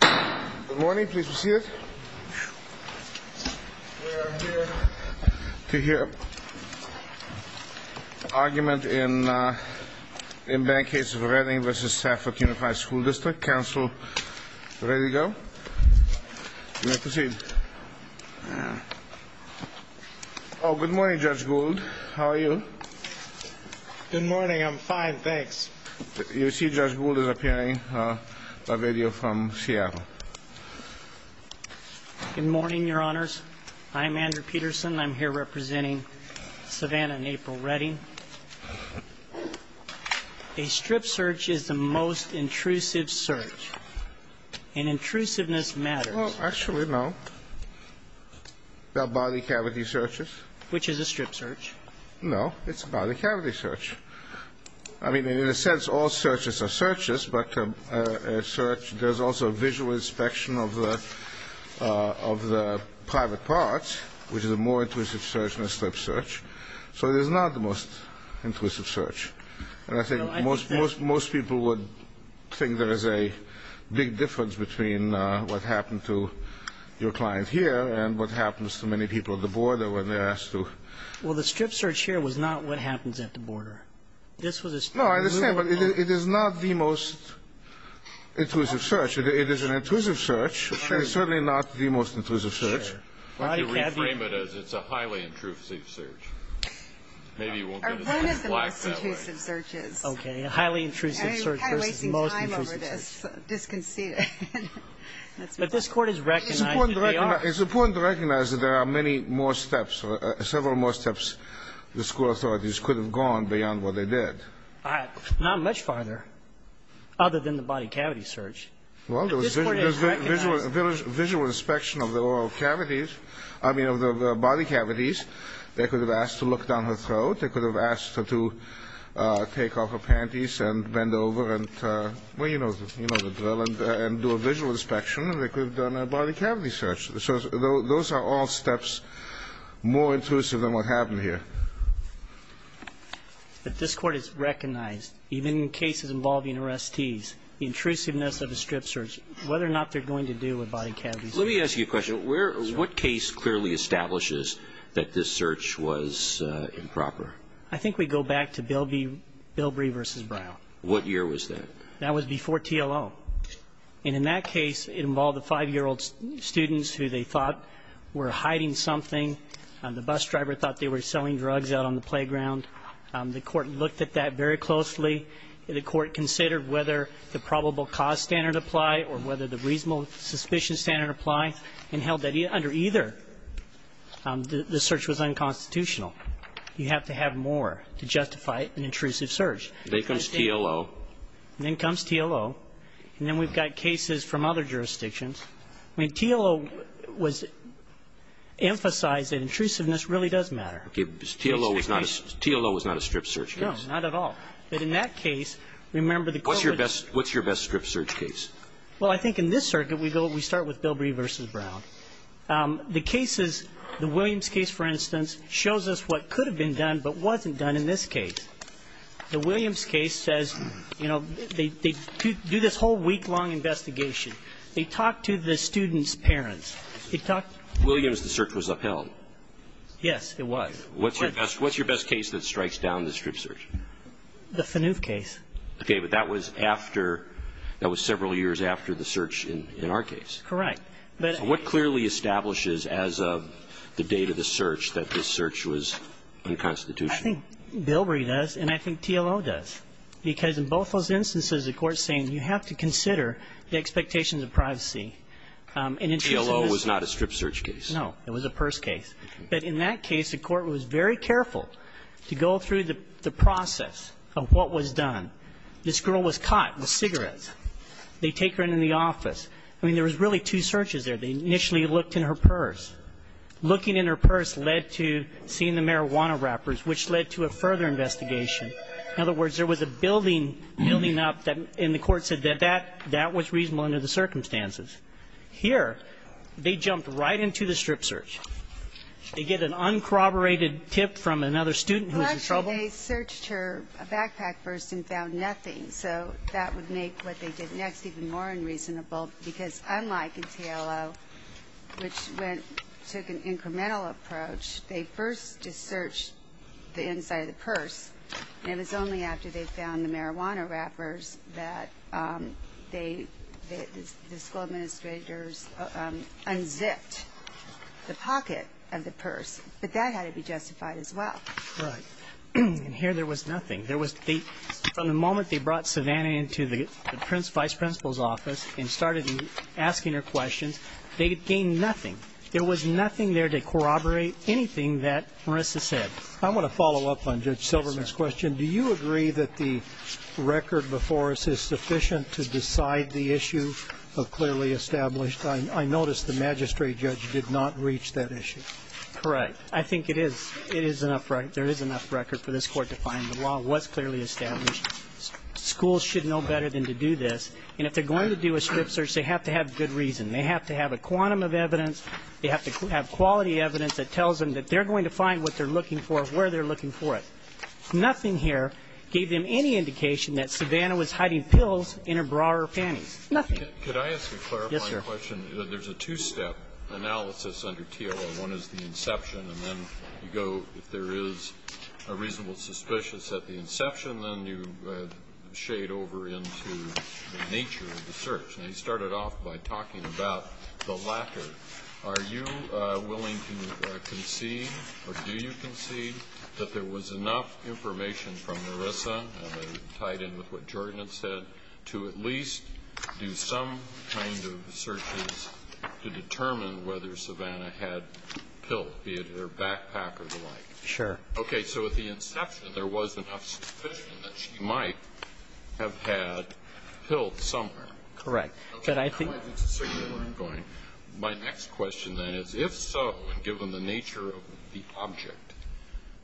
Good morning. Please proceed. We are here to hear an argument in the case of Redding v. Stafford Unified School District. Counsel, ready to go? You may proceed. Oh, good morning, Judge Gould. How are you? Good morning. I'm fine, thanks. You see Judge Gould is appearing by radio from Seattle. Good morning, Your Honors. I'm Andrew Peterson. I'm here representing Savannah and April Redding. A strip search is the most intrusive search, and intrusiveness matters. Well, actually, no. There are body cavity searches. Which is a strip search. No, it's a body cavity search. I mean, in a sense, all searches are searches, but a search, there's also visual inspection of the private parts, which is a more intrusive search than a strip search. So it is not the most intrusive search. And I think most people would think there is a big difference between what happened to your client here and what happens to many people at the border when they're asked to. Well, the strip search here was not what happens at the border. No, I understand, but it is not the most intrusive search. It is an intrusive search, but it's certainly not the most intrusive search. I'd like to reframe it as it's a highly intrusive search. Maybe you won't get as much black that way. Okay, a highly intrusive search versus the most intrusive search. I'm kind of wasting time over this. Disconceited. But this Court has recognized that they are. It's important to recognize that there are many more steps, several more steps the school authorities could have gone beyond what they did. Not much farther, other than the body cavity search. Well, there was visual inspection of the oral cavities, I mean, of the body cavities. They could have asked to look down her throat. They could have asked her to take off her panties and bend over and, well, you know the drill, and do a visual inspection. And they could have done a body cavity search. So those are all steps more intrusive than what happened here. But this Court has recognized, even in cases involving arrestees, the intrusiveness of a strip search, whether or not they're going to do a body cavity search. Let me ask you a question. What case clearly establishes that this search was improper? I think we go back to Bilbrey v. Brown. What year was that? That was before TLO. And in that case, it involved a 5-year-old student who they thought were hiding something. The bus driver thought they were selling drugs out on the playground. The Court looked at that very closely. The Court considered whether the probable cause standard applied or whether the reasonable suspicion standard applied, and held that under either, the search was unconstitutional. You have to have more to justify an intrusive search. Then comes TLO. Then comes TLO. And then we've got cases from other jurisdictions. I mean, TLO was emphasized that intrusiveness really does matter. Okay. TLO was not a strip search case. No, not at all. But in that case, remember the COVID- What's your best strip search case? Well, I think in this circuit, we start with Bilbrey v. Brown. The cases, the Williams case, for instance, shows us what could have been done but wasn't done in this case. The Williams case says, you know, they do this whole week-long investigation. They talk to the student's parents. They talk- In Williams, the search was upheld. Yes, it was. What's your best case that strikes down the strip search? The Faneuve case. Okay. But that was after, that was several years after the search in our case. Correct. So what clearly establishes as of the date of the search that this search was unconstitutional? I think Bilbrey does, and I think TLO does. Because in both those instances, the court's saying you have to consider the expectations of privacy. And in terms of- TLO was not a strip search case. No, it was a purse case. But in that case, the court was very careful to go through the process of what was done. This girl was caught with cigarettes. They take her into the office. I mean, there was really two searches there. They initially looked in her purse. Looking in her purse led to seeing the marijuana wrappers, which led to a further investigation. In other words, there was a building, building up, and the court said that that was reasonable under the circumstances. Here, they jumped right into the strip search. They get an uncorroborated tip from another student who was in trouble. Well, actually, they searched her backpack first and found nothing. So that would make what they did next even more unreasonable, because unlike in TLO, which took an incremental approach, they first just searched the inside of the purse. And it was only after they found the marijuana wrappers that the school administrators unzipped the pocket of the purse. But that had to be justified as well. Right. And here there was nothing. From the moment they brought Savannah into the vice principal's office and started asking her questions, they gained nothing. There was nothing there to corroborate anything that Marissa said. I want to follow up on Judge Silverman's question. Do you agree that the record before us is sufficient to decide the issue of clearly established? I noticed the magistrate judge did not reach that issue. Correct. I think it is. There is enough record for this Court to find the law was clearly established. Schools should know better than to do this. And if they're going to do a strip search, they have to have good reason. They have to have a quantum of evidence. They have to have quality evidence that tells them that they're going to find what they're looking for, where they're looking for it. Nothing here gave them any indication that Savannah was hiding pills in her bra or panties. Nothing. Could I ask a clarifying question? Yes, sir. There's a two-step analysis under TOL. One is the inception, and then you go, if there is a reasonable suspicious at the inception, then you shade over into the nature of the search. Now, you started off by talking about the latter. Are you willing to concede, or do you concede, that there was enough information from Marissa, tied in with what Jordan had said, to at least do some kind of searches to determine whether Savannah had pills, be it in her backpack or the like? Sure. Okay. So at the inception, there was enough suspicion that she might have had pills somewhere. Correct. But I think my next question then is, if so, and given the nature of the object,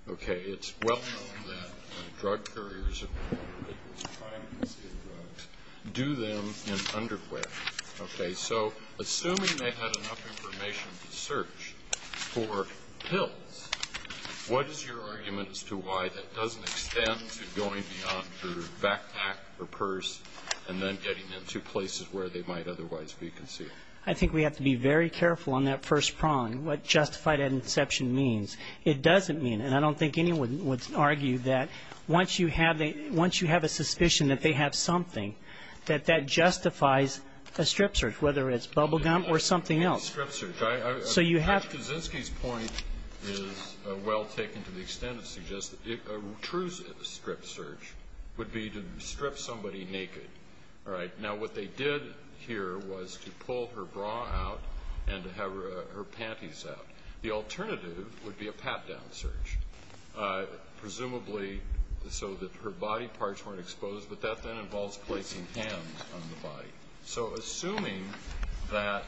okay, it's well known that drug couriers of people trying to conceal drugs do them in underquilts. Okay. So assuming they had enough information to search for pills, what is your argument as to why that doesn't extend to going beyond her backpack or purse and then getting them to places where they might otherwise be concealed? I think we have to be very careful on that first prong, what justified at inception means. It doesn't mean, and I don't think anyone would argue that once you have a suspicion that they have something, that that justifies a strip search, whether it's bubblegum or something else. A strip search. So you have to. Judge Kaczynski's point is well taken to the extent it suggests that a true strip search would be to strip somebody naked. All right. Now, what they did here was to pull her bra out and to have her panties out. The alternative would be a pat-down search, presumably so that her body parts weren't exposed, but that then involves placing hands on the body. So assuming that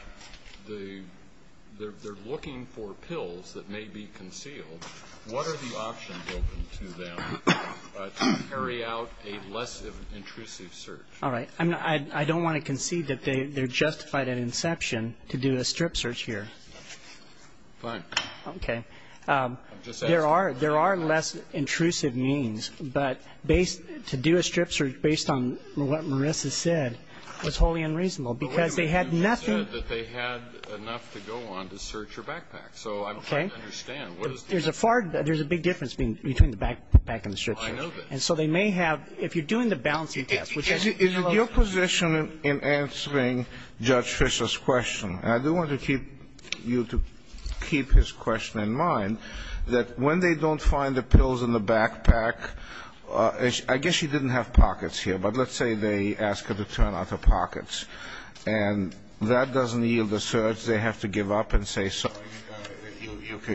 they're looking for pills that may be concealed, what are the options open to them to carry out a less intrusive search? All right. I don't want to concede that they're justified at inception to do a strip search here. Fine. Okay. I'm just asking. There are less intrusive means, but to do a strip search based on what Marissa said was wholly unreasonable, because they had nothing. But they said that they had enough to go on to search her backpack. Okay. So I'm trying to understand. There's a big difference between the backpack and the strip search. I know that. And so they may have, if you're doing the balancing test, which has to be closed. Is it your position in answering Judge Fischer's question, and I do want to keep you to keep his question in mind, that when they don't find the pills in the backpack, I guess she didn't have pockets here, but let's say they ask her to turn out her pockets, and that doesn't yield a search. They have to give up and say, sorry,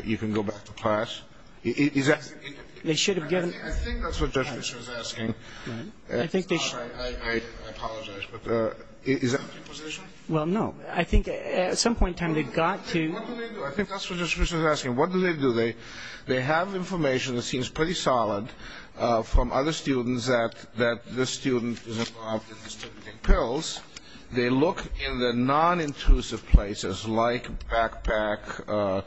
you can go back to class. Is that? They should have given. I think that's what Judge Fischer is asking. I apologize. Is that your position? Well, no. I think at some point in time they got to. What do they do? I think that's what Judge Fischer is asking. What do they do? They have information that seems pretty solid from other students that this student is involved in distributing pills. They look in the nonintrusive places like backpack,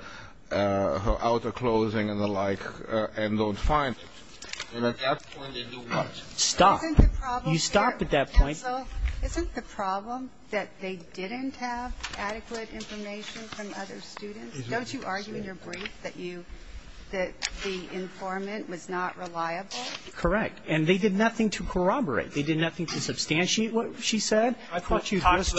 her outer clothing and the like, and don't find it. And at that point, they do what? Stop. Isn't the problem that they didn't have adequate information from other students? Don't you argue in your brief that you, that the informant was not reliable? Correct. And they did nothing to corroborate. They did nothing to substantiate what she said. I thought you just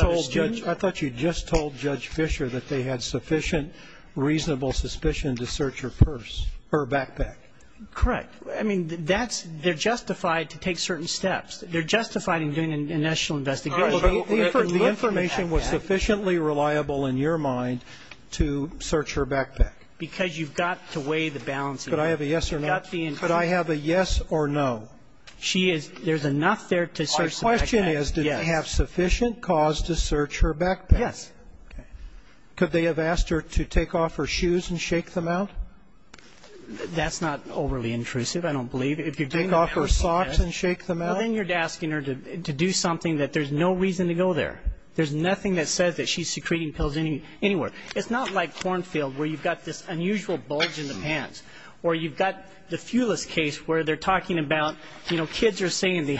told Judge Fischer that they had sufficient reasonable suspicion to search her purse, her backpack. Correct. I mean, that's, they're justified to take certain steps. They're justified in doing a national investigation. The information was sufficiently reliable in your mind to search her backpack. Because you've got to weigh the balance. Could I have a yes or no? Could I have a yes or no? She is, there's enough there to search the backpack. Our question is, did they have sufficient cause to search her backpack? Yes. Could they have asked her to take off her shoes and shake them out? That's not overly intrusive, I don't believe. Take off her socks and shake them out? Well, then you're asking her to do something that there's no reason to go there. There's nothing that says that she's secreting pills anywhere. It's not like Kornfield where you've got this unusual bulge in the pants. Or you've got the Fulis case where they're talking about, you know, kids are saying they're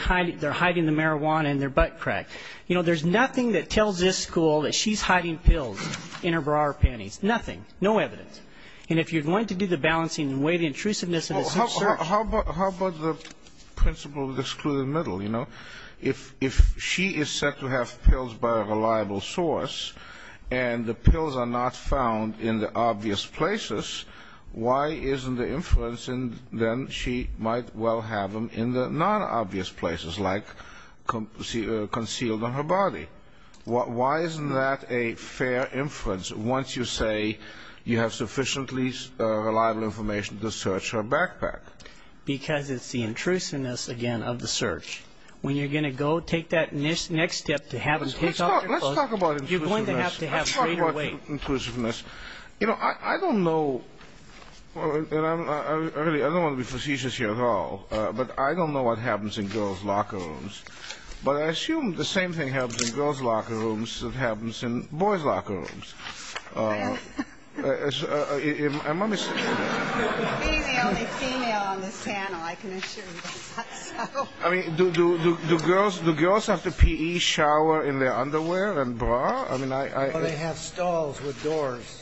hiding the marijuana in their butt crack. You know, there's nothing that tells this school that she's hiding pills in her bra or panties. Nothing. No evidence. And if you're going to do the balancing and weigh the intrusiveness of the search. If she is said to have pills by a reliable source and the pills are not found in the obvious places, why isn't the inference then she might well have them in the non-obvious places like concealed in her body? Why isn't that a fair inference once you say you have sufficiently reliable information to search her backpack? Because it's the intrusiveness, again, of the search. When you're going to go take that next step to have them take off your clothes, you're going to have to have greater weight. Let's talk about intrusiveness. You know, I don't know. I don't want to be facetious here at all, but I don't know what happens in girls' locker rooms. But I assume the same thing happens in girls' locker rooms that happens in boys' locker rooms. Being the only female on this panel, I can assure you that's not so. I mean, do girls have to P.E., shower in their underwear and bra? Or they have stalls with doors.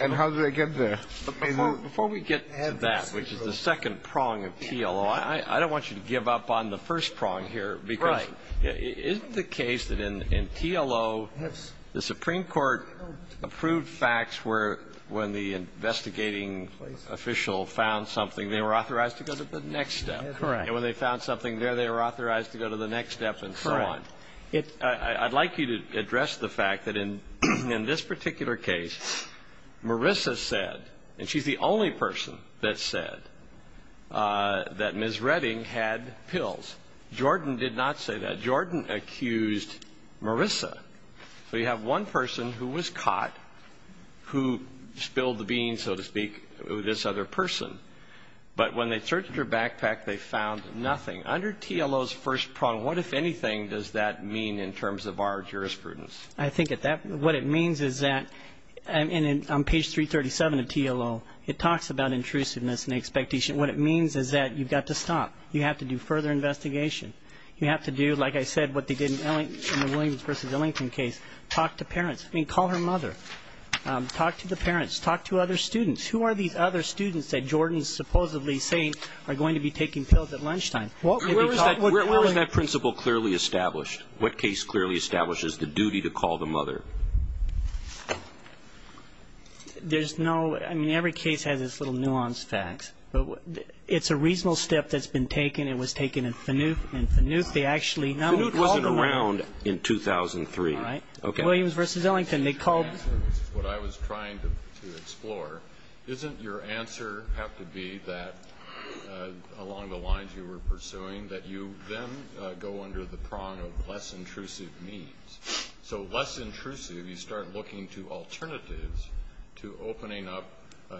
And how do they get there? Before we get to that, which is the second prong of TLO, I don't want you to give up on the first prong here. Right. Isn't the case that in TLO, the Supreme Court approved facts where when the investigating official found something, they were authorized to go to the next step. Correct. And when they found something there, they were authorized to go to the next step and so on. Correct. I'd like you to address the fact that in this particular case, Marissa said, and she's the only person that said, that Ms. Redding had pills. Jordan did not say that. Jordan accused Marissa. So you have one person who was caught who spilled the beans, so to speak, with this other person. But when they searched her backpack, they found nothing. Under TLO's first prong, what, if anything, does that mean in terms of our jurisprudence? I think what it means is that on page 337 of TLO, it talks about intrusiveness and expectation. What it means is that you've got to stop. You have to do further investigation. You have to do, like I said, what they did in the Williams v. Ellington case, talk to parents. I mean, call her mother. Talk to the parents. Talk to other students. Who are these other students that Jordan's supposedly saying are going to be taking pills at lunchtime? Where is that principle clearly established? What case clearly establishes the duty to call the mother? There's no ñ I mean, every case has its little nuanced facts. It's a reasonable step that's been taken. It was taken in FANUF. In FANUF, they actually ñ FANUF wasn't around in 2003. All right. Williams v. Ellington, they called ñ This is what I was trying to explore. Doesn't your answer have to be that along the lines you were pursuing, that you then go under the prong of less intrusive means? So less intrusive, you start looking to alternatives to opening up,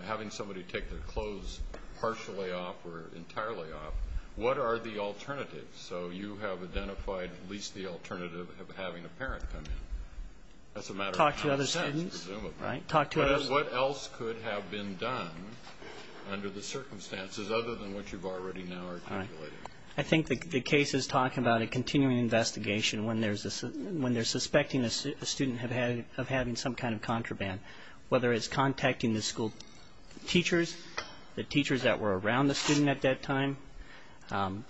having somebody take their clothes partially off or entirely off. What are the alternatives? So you have identified at least the alternative of having a parent come in. That's a matter of common sense, presumably. Talk to other students. Right. Talk to other students. But what else could have been done under the circumstances other than what you've already now articulated? I think the case is talking about a continuing investigation when they're suspecting a student of having some kind of contraband, whether it's contacting the school teachers, the teachers that were around the student at that time,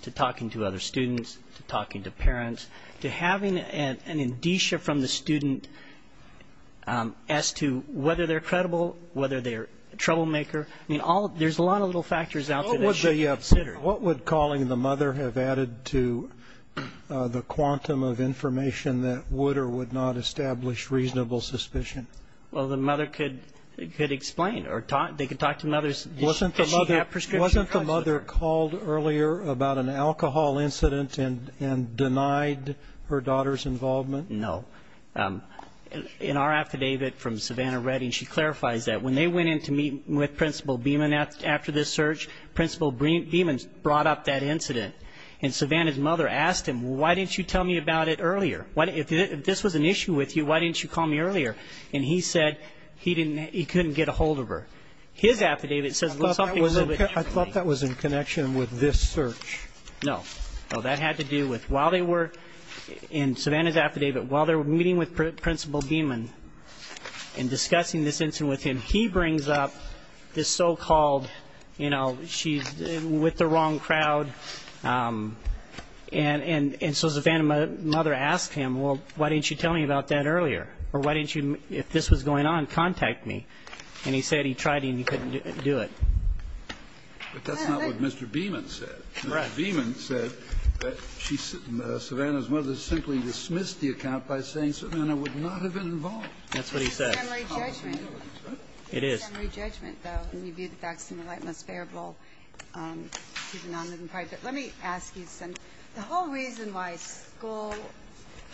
to talking to other students, to talking to parents, to having an indicia from the student as to whether they're credible, whether they're a troublemaker. I mean, there's a lot of little factors out there. What would calling the mother have added to the quantum of information that would or would not establish reasonable suspicion? Well, the mother could explain, or they could talk to the mother. Wasn't the mother called earlier about an alcohol incident and denied her daughter's involvement? No. In our affidavit from Savannah Redding, she clarifies that when they went in to meet with Principal Beeman after this search, Principal Beeman brought up that incident. And Savannah's mother asked him, why didn't you tell me about it earlier? If this was an issue with you, why didn't you call me earlier? And he said he couldn't get a hold of her. His affidavit says something a little bit differently. I thought that was in connection with this search. No. No, that had to do with while they were in Savannah's affidavit, while they were meeting with Principal Beeman and discussing this incident with him, he brings up this so-called, you know, she's with the wrong crowd. And so Savannah's mother asked him, well, why didn't you tell me about that earlier? Or why didn't you, if this was going on, contact me? And he said he tried and he couldn't do it. But that's not what Mr. Beeman said. Mr. Beeman said that Savannah's mother simply dismissed the account by saying Savannah would not have been involved. That's what he said. It's a summary judgment. It is. It's a summary judgment, though, when you view the facts in a light-most bearable, even non-living private. But let me ask you something. The whole reason why school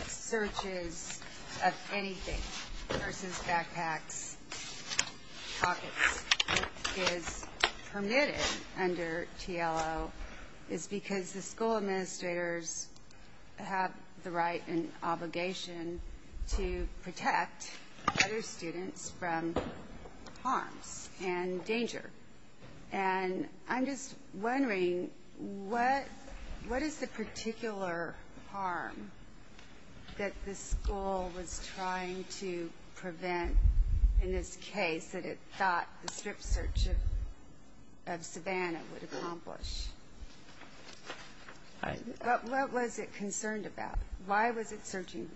searches of anything versus backpacks, pockets, is permitted under TLO is because the school administrators have the right and obligation to protect other students from harms and danger. And I'm just wondering what is the particular harm that the school was trying to prevent in this case that it thought the strip search of Savannah would accomplish? What was it concerned about? Why was it searching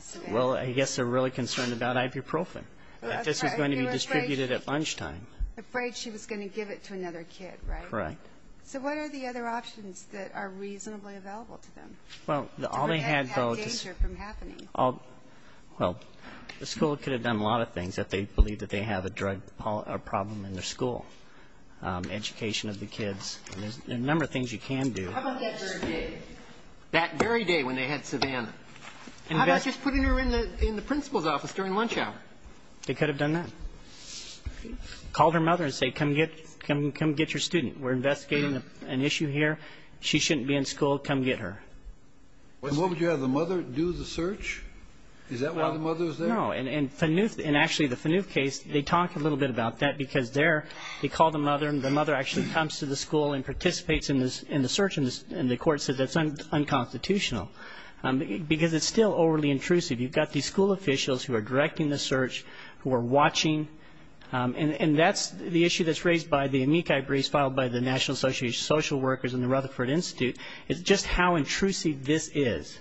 Savannah? Well, I guess they're really concerned about ibuprofen, that this was going to be distributed at lunchtime. Afraid she was going to give it to another kid, right? Correct. So what are the other options that are reasonably available to them? Well, all they had, though, was the school could have done a lot of things if they believed that they have a drug problem in their school, education of the kids. There's a number of things you can do. How about that very day? That very day when they had Savannah. How about just putting her in the principal's office during lunch hour? They could have done that. Called her mother and said, come get your student. We're investigating an issue here. She shouldn't be in school. Come get her. And what would you have the mother do, the search? Is that why the mother was there? No. And actually, the Phaneuf case, they talk a little bit about that because they called the mother, and the mother actually comes to the school and participates in the search, and the court said that's unconstitutional because it's still overly intrusive. You've got these school officials who are directing the search, who are watching, and that's the issue that's raised by the amici briefs filed by the National Association of Social Workers and the Rutherford Institute is just how intrusive this is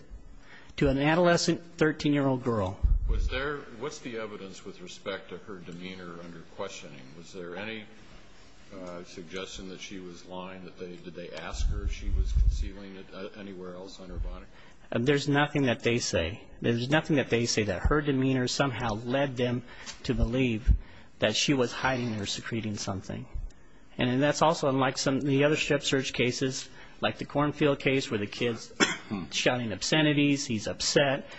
to an adolescent 13-year-old girl. What's the evidence with respect to her demeanor under questioning? Was there any suggestion that she was lying? Did they ask her if she was concealing it anywhere else on her body? There's nothing that they say. There's nothing that they say that her demeanor somehow led them to believe that she was hiding or secreting something. And that's also unlike some of the other strip search cases, like the Cornfield case where the kid's shouting obscenities, he's upset,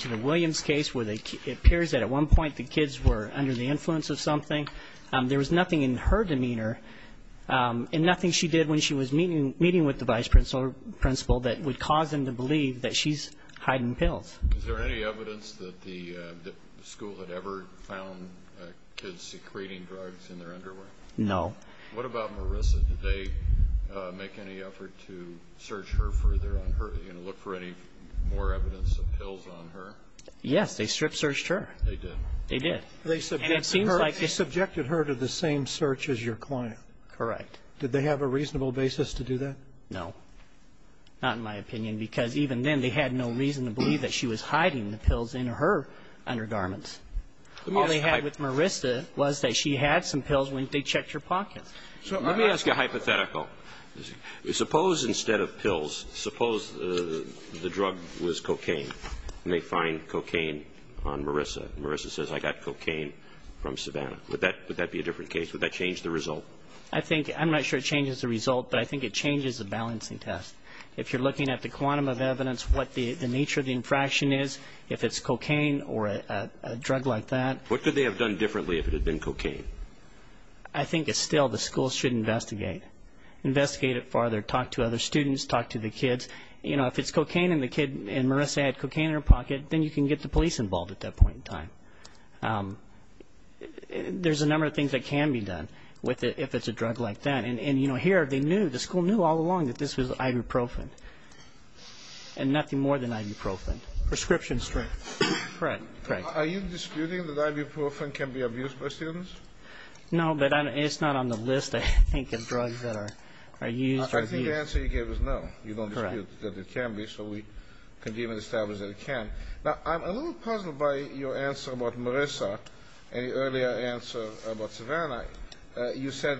to the Williams case where it appears that at one point the kids were under the influence of something. There was nothing in her demeanor and nothing she did when she was meeting with the vice principal that would cause them to believe that she's hiding pills. Is there any evidence that the school had ever found kids secreting drugs in their underwear? No. What about Marissa? Did they make any effort to search her further and look for any more evidence of pills on her? Yes. They strip searched her. They did. They did. And it seems like they subjected her to the same search as your client. Correct. Did they have a reasonable basis to do that? No. Not in my opinion, because even then they had no reason to believe that she was hiding the pills in her undergarments. All they had with Marissa was that she had some pills when they checked her pockets. Let me ask you a hypothetical. Suppose instead of pills, suppose the drug was cocaine. They find cocaine on Marissa. Marissa says, I got cocaine from Savannah. Would that be a different case? Would that change the result? I think, I'm not sure it changes the result, but I think it changes the balancing test. If you're looking at the quantum of evidence, what the nature of the infraction is, if it's cocaine or a drug like that. What could they have done differently if it had been cocaine? I think still the school should investigate. Investigate it further. Talk to other students. Talk to the kids. You know, if it's cocaine and Marissa had cocaine in her pocket, then you can get the police involved at that point in time. There's a number of things that can be done if it's a drug like that. And, you know, here the school knew all along that this was ibuprofen and nothing more than ibuprofen. Prescription strength. Correct. Are you disputing that ibuprofen can be abused by students? No, but it's not on the list, I think, of drugs that are used. I think the answer you gave is no. You don't dispute that it can be, so we can give an established that it can. Now, I'm a little puzzled by your answer about Marissa and your earlier answer about Savannah. You said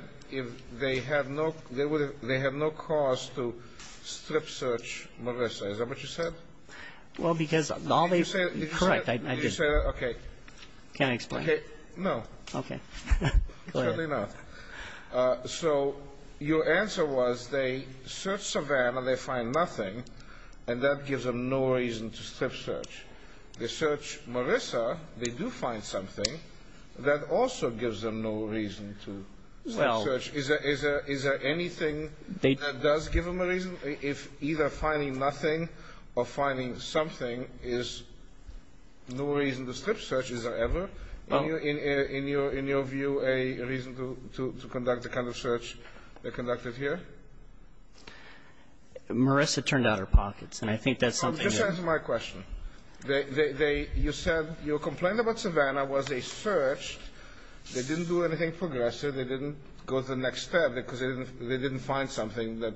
they have no cause to strip search Marissa. Is that what you said? Well, because all they've said is correct. Did you say that? Okay. Can I explain? No. Okay. Go ahead. Certainly not. So your answer was they search Savannah, they find nothing, and that gives them no reason to strip search. They search Marissa, they do find something. That also gives them no reason to strip search. Is there anything that does give them a reason? If either finding nothing or finding something is no reason to strip search, is there ever, in your view, a reason to conduct the kind of search they conducted here? Marissa turned out her pockets, and I think that's something that they did. Just answer my question. You said your complaint about Savannah was they searched, they didn't do anything progressive, they didn't go to the next step because they didn't find something that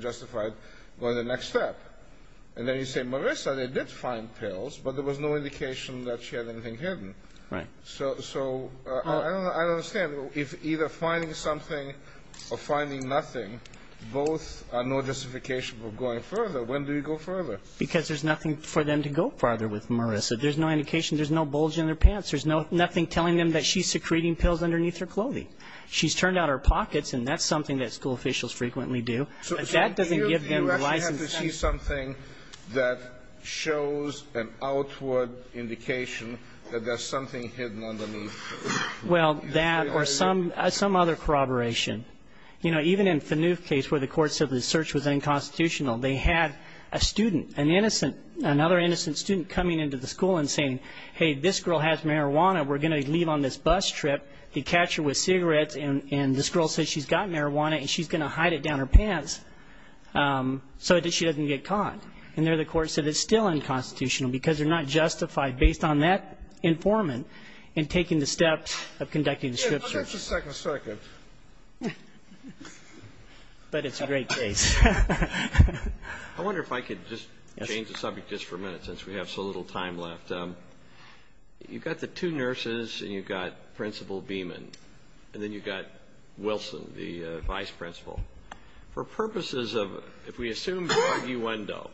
justified going to the next step. And then you say, Marissa, they did find pills, but there was no indication that she had anything hidden. Right. So I don't understand. If either finding something or finding nothing, both are no justification for going further, when do you go further? Because there's nothing for them to go further with Marissa. There's no indication. There's no bulge in their pants. There's nothing telling them that she's secreting pills underneath her clothing. She's turned out her pockets, and that's something that school officials frequently do. That doesn't give them the license to do that. So do you actually have to see something that shows an outward indication that there's something hidden underneath? Well, that or some other corroboration. You know, even in Fanuf's case where the court said the search was unconstitutional, they had a student, an innocent, another innocent student coming into the school and saying, hey, this girl has marijuana, we're going to leave on this bus trip to catch her with cigarettes, and this girl says she's got marijuana and she's going to hide it down her pants so that she doesn't get caught. And there the court said it's still unconstitutional because they're not justified based on that informant in taking the steps of conducting the scripture. I'll give you a second. But it's a great case. I wonder if I could just change the subject just for a minute since we have so little time left. You've got the two nurses and you've got Principal Beaman, and then you've got Wilson, the vice principal. For purposes of if we assume by argumento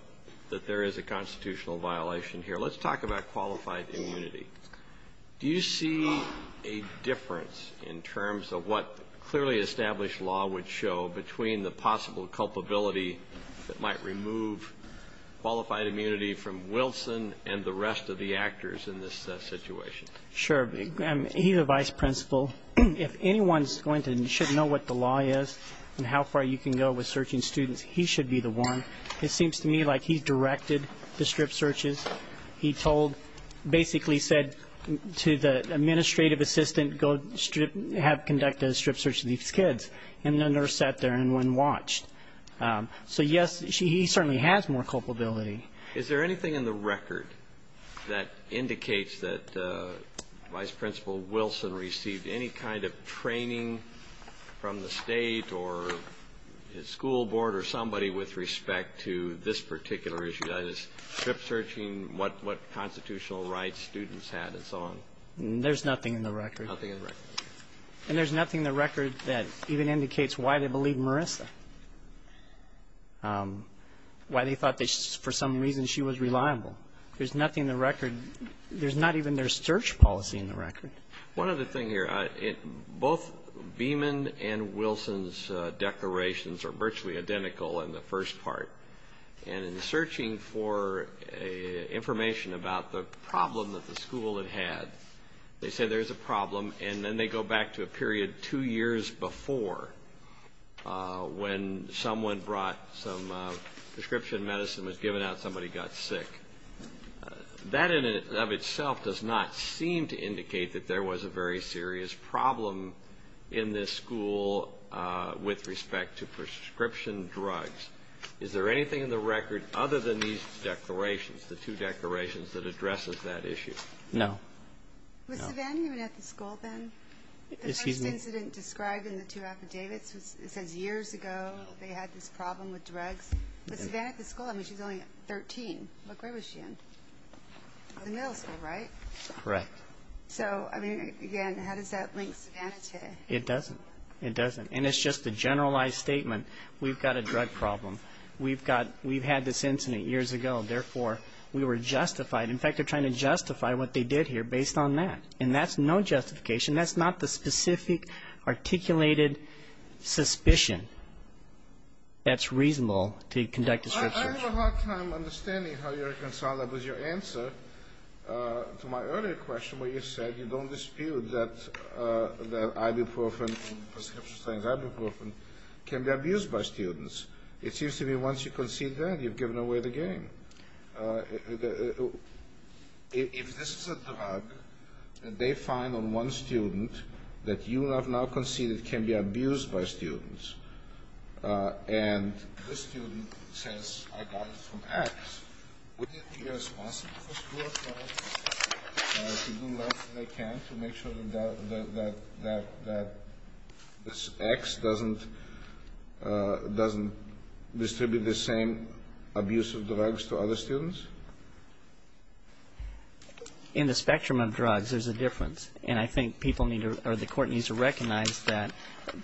that there is a constitutional violation here, let's talk about qualified immunity. Do you see a difference in terms of what clearly established law would show between the possible culpability that might remove qualified immunity from Wilson and the rest of the actors in this situation? Sure. He's the vice principal. If anyone's going to know what the law is and how far you can go with searching students, he should be the one. It seems to me like he directed the strip searches. He basically said to the administrative assistant, go have conducted a strip search of these kids. And the nurse sat there and went and watched. So, yes, he certainly has more culpability. Is there anything in the record that indicates that Vice Principal Wilson received any kind of training from the state or his school board or somebody with respect to this particular issue, that is, strip searching, what constitutional rights students had and so on? There's nothing in the record. Nothing in the record. And there's nothing in the record that even indicates why they believed Marissa, why they thought that for some reason she was reliable. There's nothing in the record. There's not even their search policy in the record. One other thing here. Both Beeman and Wilson's declarations are virtually identical in the first part. And in searching for information about the problem that the school had had, they said there's a problem. And then they go back to a period two years before when someone brought some prescription medicine and was given out and somebody got sick. That in and of itself does not seem to indicate that there was a very serious problem in this school with respect to prescription drugs. Is there anything in the record other than these declarations, the two declarations that addresses that issue? No. Was Savannah even at the school then? The first incident described in the two affidavits, it says years ago they had this problem with drugs. But Savannah at the school, I mean, she was only 13. What grade was she in? Middle school, right? Correct. So, I mean, again, how does that link Savannah to? It doesn't. It doesn't. And it's just a generalized statement. We've got a drug problem. We've had this incident years ago. Therefore, we were justified. In fact, they're trying to justify what they did here based on that. And that's no justification. That's not the specific articulated suspicion that's reasonable to conduct a prescription. I have a hard time understanding how you reconcile that with your answer to my earlier question where you said you don't dispute that ibuprofen, prescription drugs, ibuprofen can be abused by students. It seems to me once you concede that, you've given away the game. If this is a drug and they find on one student that you have now conceded can be abused by students and this student says I got it from X, would you think it is possible for school to do less than they can to make sure that X doesn't distribute the same abuse of drugs to other students? In the spectrum of drugs, there's a difference. And I think people need to or the court needs to recognize that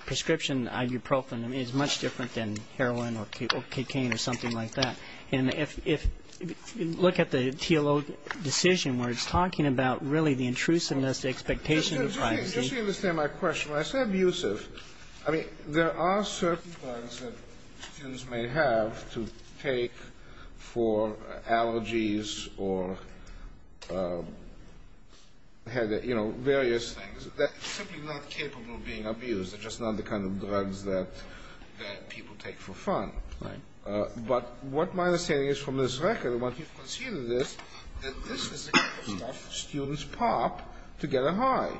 prescription ibuprofen is much different than heroin or cocaine or something like that. And if you look at the TLO decision where it's talking about really the intrusiveness, the expectation of privacy. Just to understand my question, when I say abusive, I mean, there are certain drugs that students may have to take for allergies or various things. They're simply not capable of being abused. They're just not the kind of drugs that people take for fun. Right. But what my understanding is from this record, once you've conceded this, that this is the kind of stuff students pop to get a high.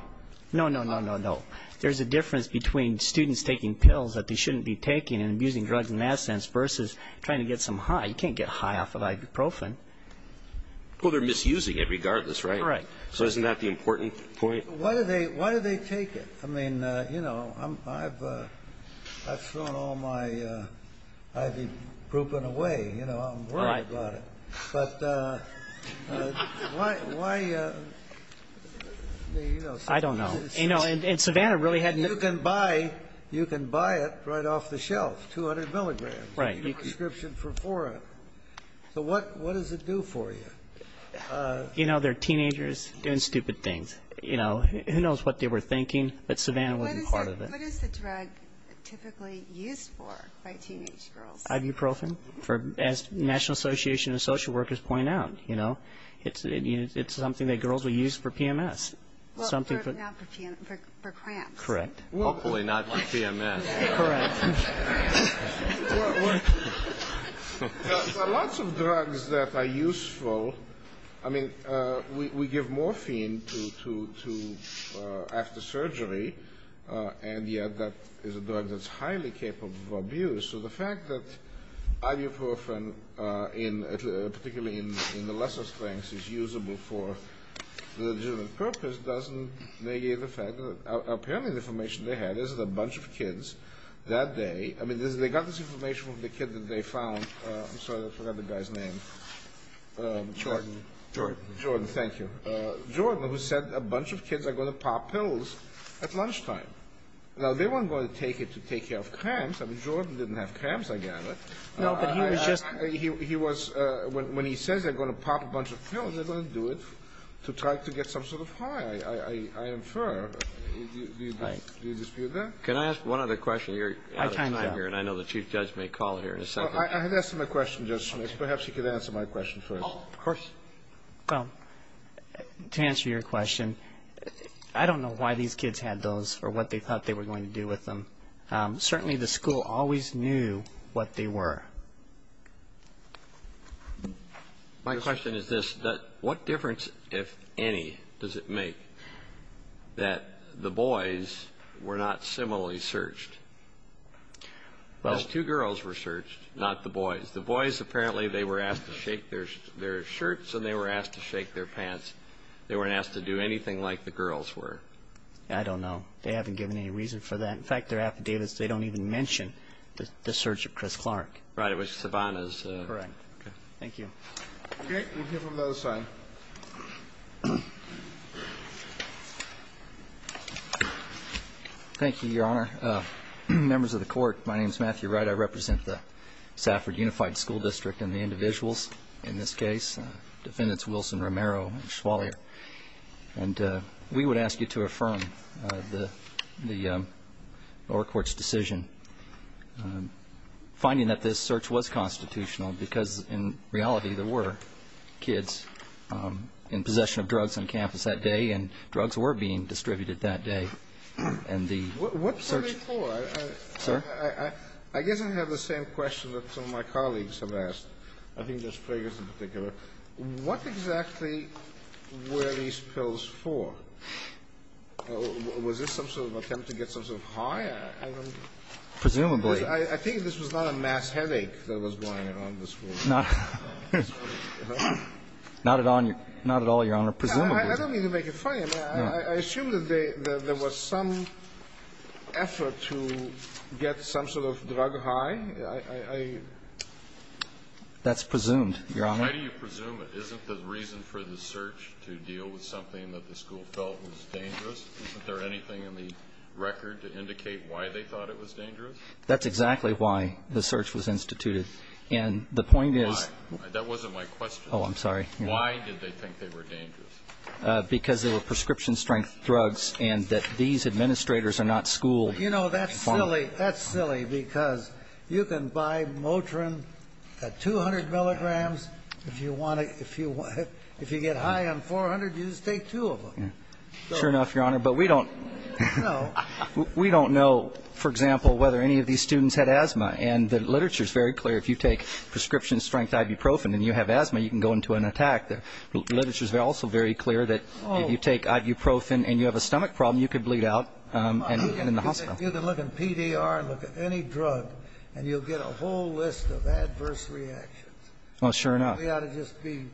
No, no, no, no, no. There's a difference between students taking pills that they shouldn't be taking and abusing drugs in that sense versus trying to get some high. You can't get high off of ibuprofen. Well, they're misusing it regardless, right? Right. So isn't that the important point? Why do they take it? I mean, you know, I've thrown all my ibuprofen away. You know, I'm worried about it. But why? I don't know. You know, and Savannah really hadn't. You can buy it right off the shelf, 200 milligrams. Right. Prescription for four. So what does it do for you? You know, they're teenagers doing stupid things. You know, who knows what they were thinking, but Savannah wasn't part of it. What is the drug typically used for by teenage girls? Ibuprofen. As National Association of Social Workers point out, you know, it's something that girls will use for PMS. Well, not for PMS, for cramps. Correct. Hopefully not for PMS. Correct. Well, there are lots of drugs that are useful. I mean, we give morphine to after surgery, and yet that is a drug that's highly capable of abuse. So the fact that ibuprofen, particularly in the lesser strengths, is usable for the legitimate purpose doesn't negate the fact that apparently the information they had is that a bunch of kids that day, I mean, they got this information from the kid that they found. I'm sorry, I forgot the guy's name. Jordan. Jordan. Jordan, thank you. Jordan, who said a bunch of kids are going to pop pills at lunchtime. Now, they weren't going to take it to take care of cramps. I mean, Jordan didn't have cramps, I gather. No, but he was just. He was, when he says they're going to pop a bunch of pills, they're going to do it to try to get some sort of high. I infer. Do you dispute that? Can I ask one other question? You're out of time here, and I know the Chief Judge may call here in a second. I have asked him a question, Judge Smith. Perhaps he could answer my question first. Of course. Well, to answer your question, I don't know why these kids had those or what they thought they were going to do with them. Certainly the school always knew what they were. My question is this. What difference, if any, does it make that the boys were not similarly searched? Because two girls were searched, not the boys. The boys, apparently they were asked to shake their shirts and they were asked to shake their pants. They weren't asked to do anything like the girls were. I don't know. They haven't given any reason for that. In fact, their affidavits, they don't even mention the search of Chris Clark. Right. It was Savannah's. Correct. Okay. Thank you. Okay. We'll hear from the other side. Thank you, Your Honor. Members of the Court, my name is Matthew Wright. I represent the Safford Unified School District and the individuals in this case, defendants Wilson, Romero, and Schwallier. And we would ask you to affirm the lower court's decision, finding that this search was constitutional because, in reality, there were kids in possession of drugs on campus that day and drugs were being distributed that day. And the search — What for? Sir? I guess I have the same question that some of my colleagues have asked. I think Judge Fragers in particular. What exactly were these pills for? Was this some sort of attempt to get some sort of high? I don't know. Presumably. I think this was not a mass headache that was going on in the school. Not at all, Your Honor. Presumably. I don't mean to make it funny. I assume that there was some effort to get some sort of drug high. That's presumed, Your Honor. Why do you presume it? Isn't the reason for the search to deal with something that the school felt was dangerous? Isn't there anything in the record to indicate why they thought it was dangerous? That's exactly why the search was instituted. And the point is — Why? That wasn't my question. Oh, I'm sorry. Why did they think they were dangerous? Because they were prescription-strength drugs and that these administrators are not school- If you get high on 400, you just take two of them. Sure enough, Your Honor. But we don't know, for example, whether any of these students had asthma. And the literature is very clear. If you take prescription-strength ibuprofen and you have asthma, you can go into an attack. The literature is also very clear that if you take ibuprofen and you have a stomach problem, you could bleed out and end up in the hospital. You can look in PDR and look at any drug and you'll get a whole list of adverse reactions. Oh, sure enough.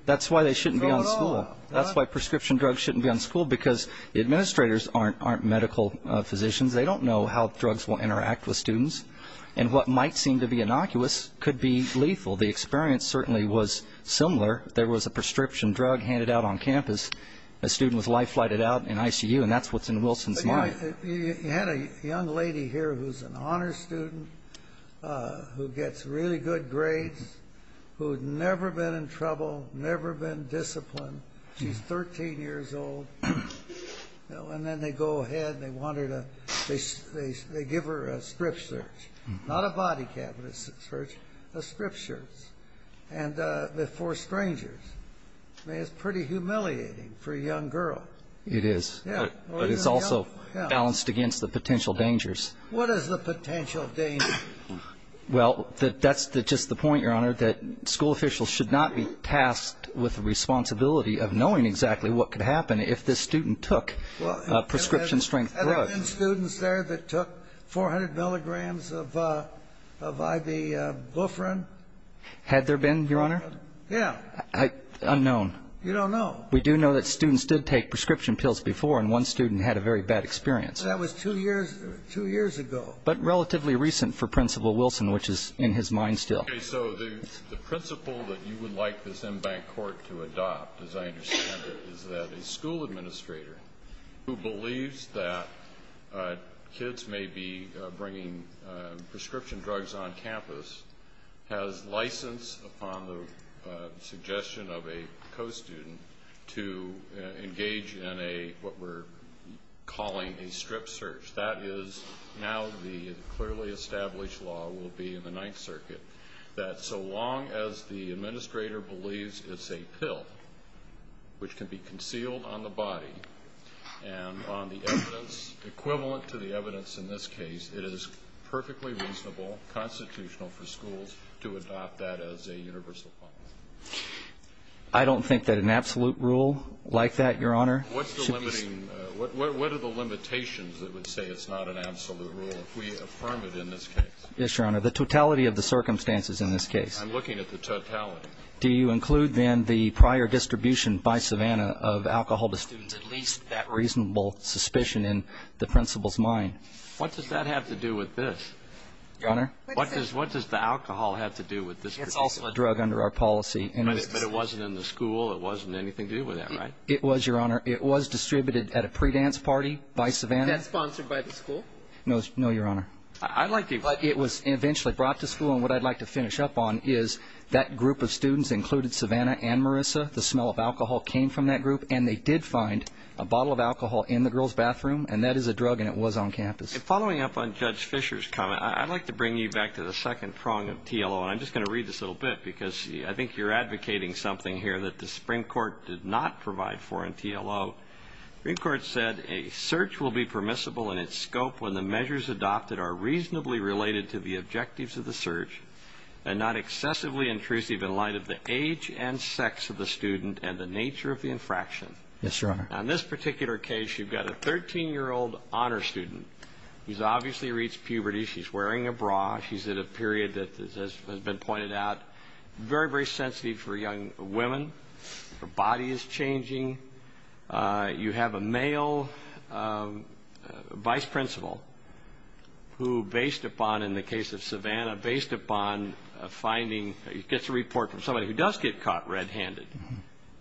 That's why they shouldn't be on school. That's why prescription drugs shouldn't be on school because the administrators aren't medical physicians. They don't know how drugs will interact with students. And what might seem to be innocuous could be lethal. The experience certainly was similar. There was a prescription drug handed out on campus. A student was life-flighted out in ICU, and that's what's in Wilson's mind. You had a young lady here who's an honors student who gets really good grades, who had never been in trouble, never been disciplined. She's 13 years old. And then they go ahead and they give her a strip search. Not a body cap, a strip search. A strip search for strangers. It's pretty humiliating for a young girl. It is. But it's also balanced against the potential dangers. What is the potential danger? Well, that's just the point, Your Honor, that school officials should not be tasked with the responsibility of knowing exactly what could happen if this student took a prescription-strength drug. Had there been students there that took 400 milligrams of ibuprofen? Had there been, Your Honor? Yeah. Unknown. You don't know. We do know that students did take prescription pills before, and one student had a very bad experience. That was two years ago. But relatively recent for Principal Wilson, which is in his mind still. So the principle that you would like this en banc court to adopt, as I understand it, is that a school administrator who believes that kids may be bringing prescription drugs on campus has license upon the suggestion of a co-student to engage in what we're calling a strip search. That is now the clearly established law will be in the Ninth Circuit that so long as the administrator believes it's a pill which can be concealed on the body and on the evidence equivalent to the evidence in this case, it is perfectly reasonable, constitutional for schools to adopt that as a universal law. I don't think that an absolute rule like that, Your Honor. What are the limitations that would say it's not an absolute rule if we affirm it in this case? Yes, Your Honor, the totality of the circumstances in this case. I'm looking at the totality. Do you include then the prior distribution by Savannah of alcohol to students, at least that reasonable suspicion in the principal's mind? What does that have to do with this? Your Honor? What does the alcohol have to do with this? It's also a drug under our policy. But it wasn't in the school. It wasn't anything to do with that, right? It was, Your Honor. It was distributed at a pre-dance party by Savannah. Sponsored by the school? No, Your Honor. But it was eventually brought to school. And what I'd like to finish up on is that group of students included Savannah and Marissa. The smell of alcohol came from that group. And they did find a bottle of alcohol in the girls' bathroom. And that is a drug, and it was on campus. Following up on Judge Fischer's comment, I'd like to bring you back to the second prong of TLO. And I'm just going to read this a little bit because I think you're advocating something here that the Supreme Court did not provide for in TLO. The Supreme Court said, A search will be permissible in its scope when the measures adopted are reasonably related to the objectives of the search and not excessively intrusive in light of the age and sex of the student and the nature of the infraction. Yes, Your Honor. Now, in this particular case, you've got a 13-year-old honor student who's obviously reached puberty. She's wearing a bra. She's at a period that has been pointed out, very, very sensitive for young women. Her body is changing. You have a male vice principal who, based upon, in the case of Savannah, based upon finding, gets a report from somebody who does get caught red-handed.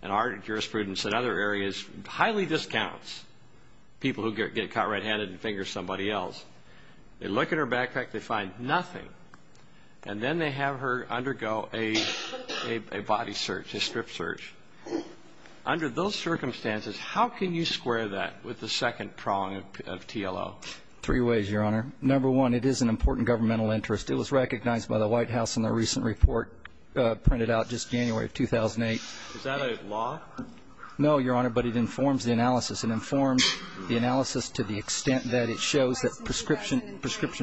And our jurisprudence in other areas highly discounts people who get caught red-handed and finger somebody else. They look at her backpack. They find nothing. And then they have her undergo a body search, a strip search. Under those circumstances, how can you square that with the second prong of TLO? Three ways, Your Honor. Number one, it is an important governmental interest. It was recognized by the White House in the recent report printed out just January of 2008. Is that a law? No, Your Honor, but it informs the analysis. It informs the analysis to the extent that it shows that prescription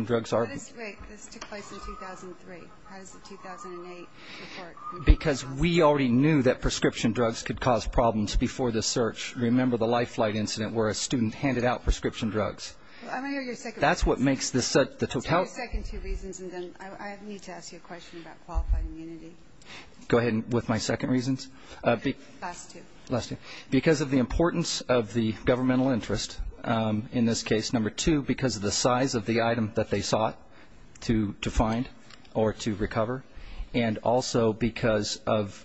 drugs are ______. That is right. This took place in 2003. How does the 2008 report ______? Because we already knew that prescription drugs could cause problems before the search. Remember the Life Flight incident where a student handed out prescription drugs. I'm going to hear your second reason. That's what makes this ______. Your second two reasons, and then I need to ask you a question about qualified immunity. Go ahead with my second reasons. Last two. Last two. Because of the importance of the governmental interest in this case, number two, because of the size of the item that they sought to find or to recover, and also because of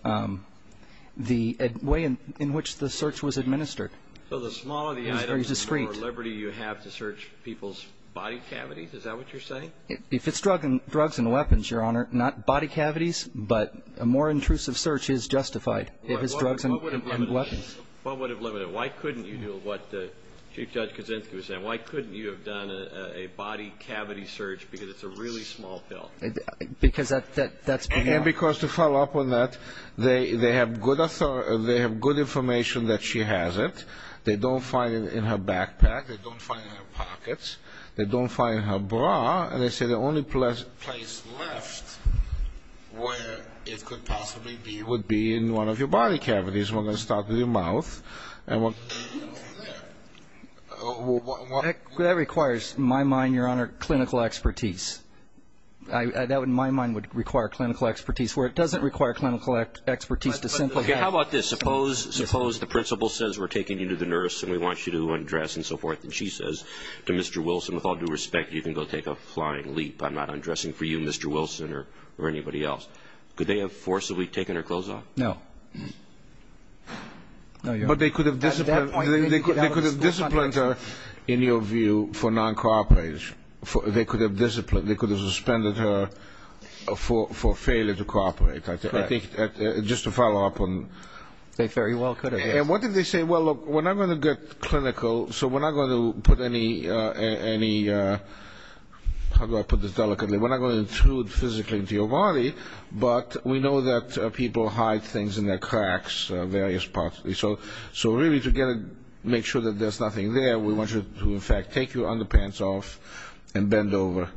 the way in which the search was administered. So the smaller the item, the more liberty you have to search people's body cavities? Is that what you're saying? If it's drugs and weapons, Your Honor, not body cavities, but a more intrusive search is justified if it's drugs and weapons. What would have limited it? Why couldn't you do what Chief Judge Kaczynski was saying? Why couldn't you have done a body cavity search because it's a really small pill? Because to follow up on that, they have good information that she has it. They don't find it in her backpack. They don't find it in her pockets. They don't find it in her bra. And they say the only place left where it could possibly be would be in one of your body cavities. We're going to start with your mouth. That requires, in my mind, Your Honor, clinical expertise. That, in my mind, would require clinical expertise. Where it doesn't require clinical expertise to simply have. How about this? Suppose the principal says we're taking you to the nurse and we want you to undress and so forth, and she says to Mr. Wilson, with all due respect, you can go take a flying leap. I'm not undressing for you, Mr. Wilson, or anybody else. No. No, Your Honor. But they could have disciplined her, in your view, for non-cooperation. They could have suspended her for failure to cooperate. I think just to follow up on that. They very well could have. And what did they say? Well, look, we're not going to get clinical, so we're not going to put any, how do I put this delicately, we're not going to intrude physically into your body, but we know that people hide things in their cracks, various parts. So really to make sure that there's nothing there, we want you to, in fact, take your underpants off and bend over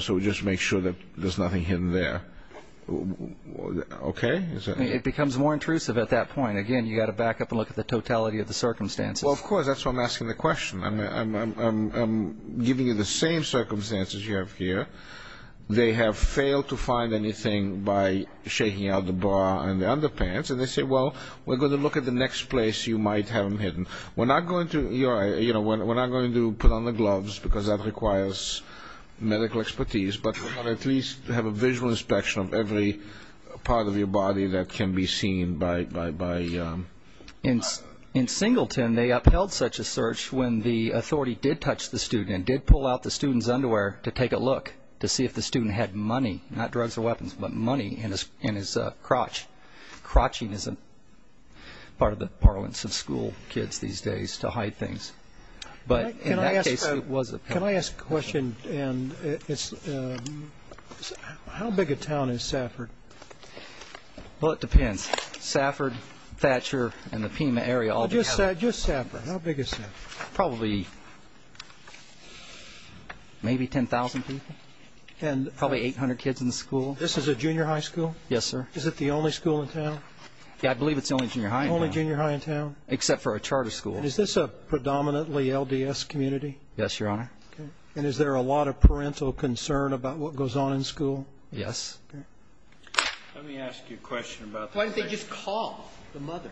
so we just make sure that there's nothing hidden there. Okay? It becomes more intrusive at that point. Again, you've got to back up and look at the totality of the circumstances. Well, of course, that's why I'm asking the question. I'm giving you the same circumstances you have here. They have failed to find anything by shaking out the bra and the underpants, and they say, well, we're going to look at the next place you might have them hidden. We're not going to put on the gloves because that requires medical expertise, but we want to at least have a visual inspection of every part of your body that can be seen by... In Singleton, they upheld such a search when the authority did touch the student and did pull out the student's underwear to take a look to see if the student had money, not drugs or weapons, but money in his crotch. Crotching isn't part of the parlance of school kids these days to hide things. But in that case, it was a... Can I ask a question? How big a town is Safford? Well, it depends. Safford, Thatcher, and the Pima area all together. Just Safford. How big is Safford? Probably maybe 10,000 people, probably 800 kids in the school. This is a junior high school? Yes, sir. Is it the only school in town? Yeah, I believe it's the only junior high in town. The only junior high in town? Except for a charter school. Is this a predominantly LDS community? Yes, Your Honor. Okay. And is there a lot of parental concern about what goes on in school? Yes. Okay. Let me ask you a question about the... Why didn't they just call the mother?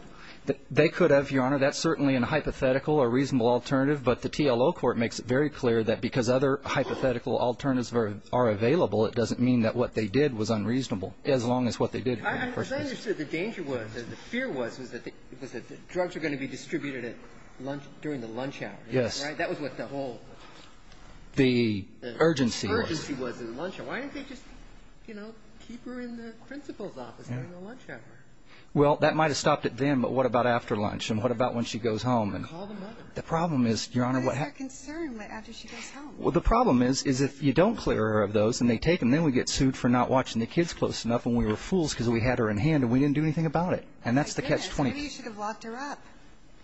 They could have, Your Honor. That's certainly a hypothetical or reasonable alternative, but the TLO court makes it very clear that because other hypothetical alternatives are available, it doesn't mean that what they did was unreasonable, as long as what they did was... Because I understood the danger was, the fear was, was that drugs were going to be distributed during the lunch hour. Yes. Right? That was what the whole... The urgency was. The urgency was in the lunch hour. Why didn't they just, you know, keep her in the principal's office during the lunch hour? Well, that might have stopped it then, but what about after lunch? And what about when she goes home? Call the mother. The problem is, Your Honor... What is their concern after she goes home? Well, the problem is, is if you don't clear her of those and they take them, then we get sued for not watching the kids close enough and we were fools because we had her in hand and we didn't do anything about it. And that's the catch-22. My goodness. Maybe you should have locked her up.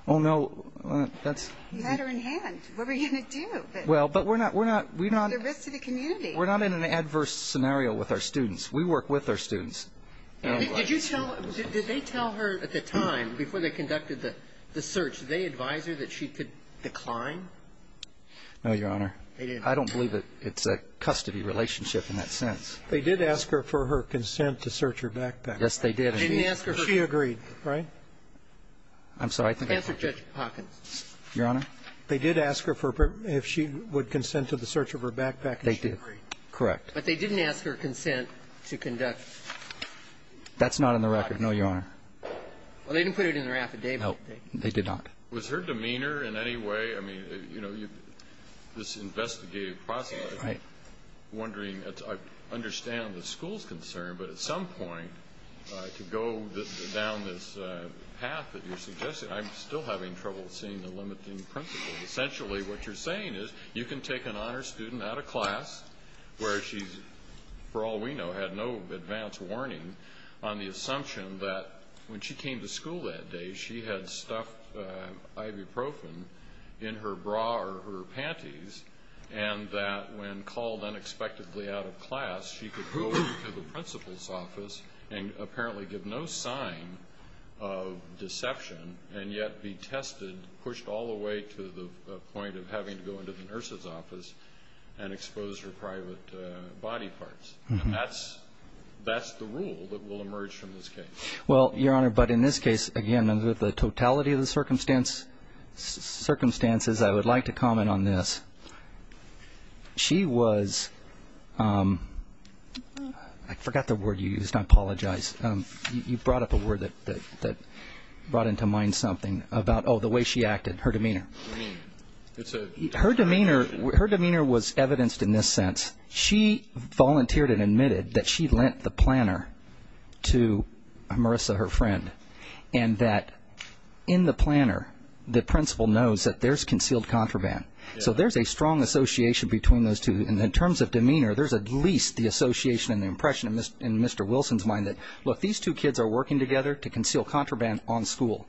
Oh, no. That's... You had her in hand. What were you going to do? Well, but we're not... The risk to the community. We're not in an adverse scenario with our students. We work with our students. Did you tell... Did they tell her at the time, before they conducted the search, did they advise her that she could decline? No, Your Honor. They didn't. I don't believe it's a custody relationship in that sense. They did ask her for her consent to search her backpack. Yes, they did. They didn't ask her... She agreed, right? I'm sorry. Answer Judge Hawkins. Your Honor. They did ask her if she would consent to the search of her backpack. They did. Correct. But they didn't ask her consent to conduct... That's not in the record. No, Your Honor. Well, they didn't put it in their affidavit. No, they did not. Was her demeanor in any way... I mean, you know, this investigative process... Right. I'm wondering... I understand the school's concern, but at some point to go down this path that you're suggesting, I'm still having trouble seeing the limiting principles. Essentially what you're saying is you can take an honors student out of class where she's, for all we know, had no advance warning on the assumption that when she came to school that day, she had stuffed ibuprofen in her bra or her panties and that when called unexpectedly out of class, she could go into the principal's office and apparently give no sign of deception and yet be tested, pushed all the way to the point of having to go into the nurse's office and expose her private body parts. And that's the rule that will emerge from this case. Well, Your Honor, but in this case, again, under the totality of the circumstances, I would like to comment on this. She was... I forgot the word you used. I apologize. You brought up a word that brought into mind something about the way she acted, her demeanor. Her demeanor was evidenced in this sense. She volunteered and admitted that she lent the planner to Marissa, her friend, and that in the planner, the principal knows that there's concealed contraband. So there's a strong association between those two. And in terms of demeanor, there's at least the association and the impression in Mr. Wilson's mind that, look, these two kids are working together to conceal contraband on school,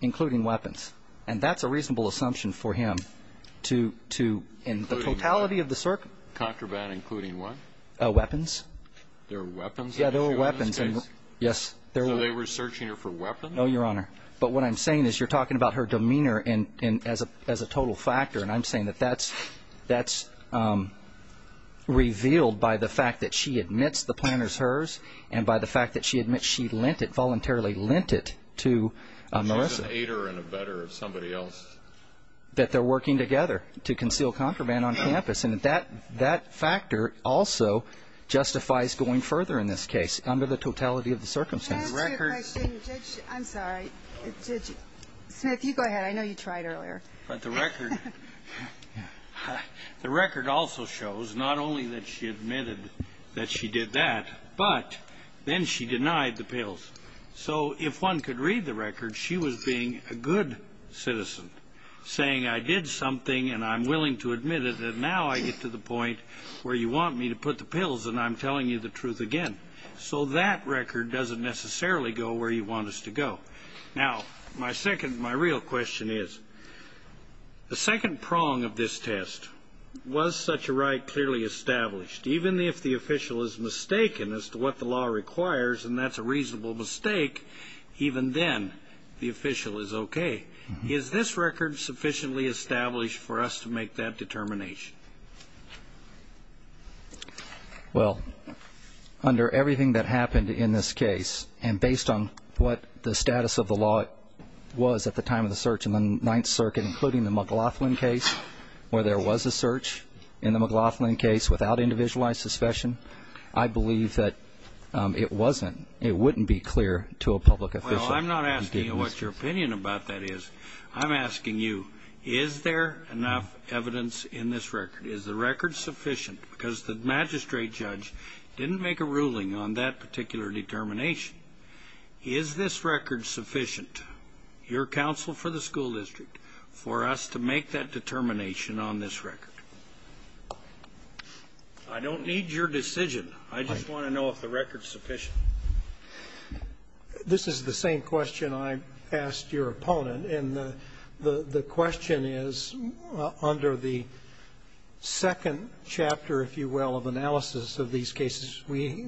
including weapons. And that's a reasonable assumption for him to, in the totality of the circumstances. Contraband including what? Weapons. There were weapons? Yeah, there were weapons. So they were searching her for weapons? No, Your Honor. But what I'm saying is you're talking about her demeanor as a total factor, and I'm saying that that's revealed by the fact that she admits the planner's hers and by the fact that she admits she lent it, voluntarily lent it, to Marissa. She's an aider and abetter of somebody else. That they're working together to conceal contraband on campus. And that factor also justifies going further in this case under the totality of the circumstances. Can I ask you a question, Judge? I'm sorry. Smith, you go ahead. I know you tried earlier. But the record also shows not only that she admitted that she did that, but then she denied the pills. So if one could read the record, she was being a good citizen, saying I did something and I'm willing to admit it, and now I get to the point where you want me to put the pills and I'm telling you the truth again. So that record doesn't necessarily go where you want us to go. Now, my real question is, the second prong of this test, was such a right clearly established? Even if the official is mistaken as to what the law requires, and that's a reasonable mistake, even then the official is okay. Is this record sufficiently established for us to make that determination? Well, under everything that happened in this case, and based on what the status of the law was at the time of the search in the Ninth Circuit, including the McLaughlin case where there was a search in the McLaughlin case without individualized suspicion, I believe that it wasn't, it wouldn't be clear to a public official. Well, I'm not asking you what your opinion about that is. I'm asking you, is there enough evidence in this record? Is the record sufficient? Because the magistrate judge didn't make a ruling on that particular determination. Is this record sufficient, your counsel for the school district, for us to make that determination on this record? I don't need your decision. I just want to know if the record is sufficient. This is the same question I asked your opponent, and the question is, under the second chapter, if you will, of analysis of these cases, we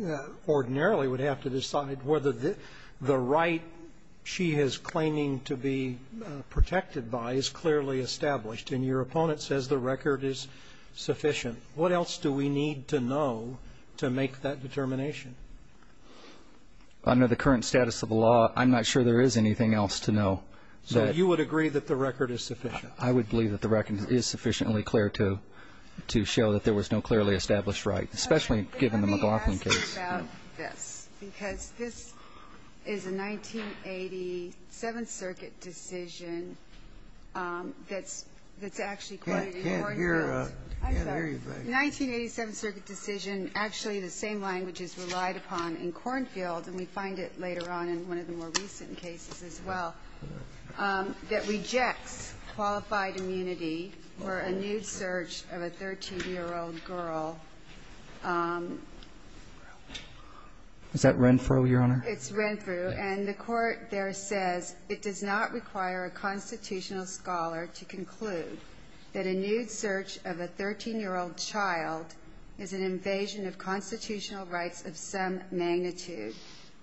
ordinarily would have to decide whether the right she is claiming to be protected by is clearly established. And your opponent says the record is sufficient. What else do we need to know to make that determination? Under the current status of the law, I'm not sure there is anything else to know. So you would agree that the record is sufficient? I would believe that the record is sufficiently clear to show that there was no clearly established right, especially given the McLaughlin case. Okay. Let me ask you about this, because this is a 1987 Circuit decision that's actually I'm sorry. The 1987 Circuit decision, actually the same language is relied upon in Cornfield, and we find it later on in one of the more recent cases as well, that rejects qualified immunity for a nude search of a 13-year-old girl. Is that Renfrew, Your Honor? It's Renfrew. And the Court there says it does not require a constitutional scholar to conclude that a nude search of a 13-year-old child is an invasion of constitutional rights of some magnitude.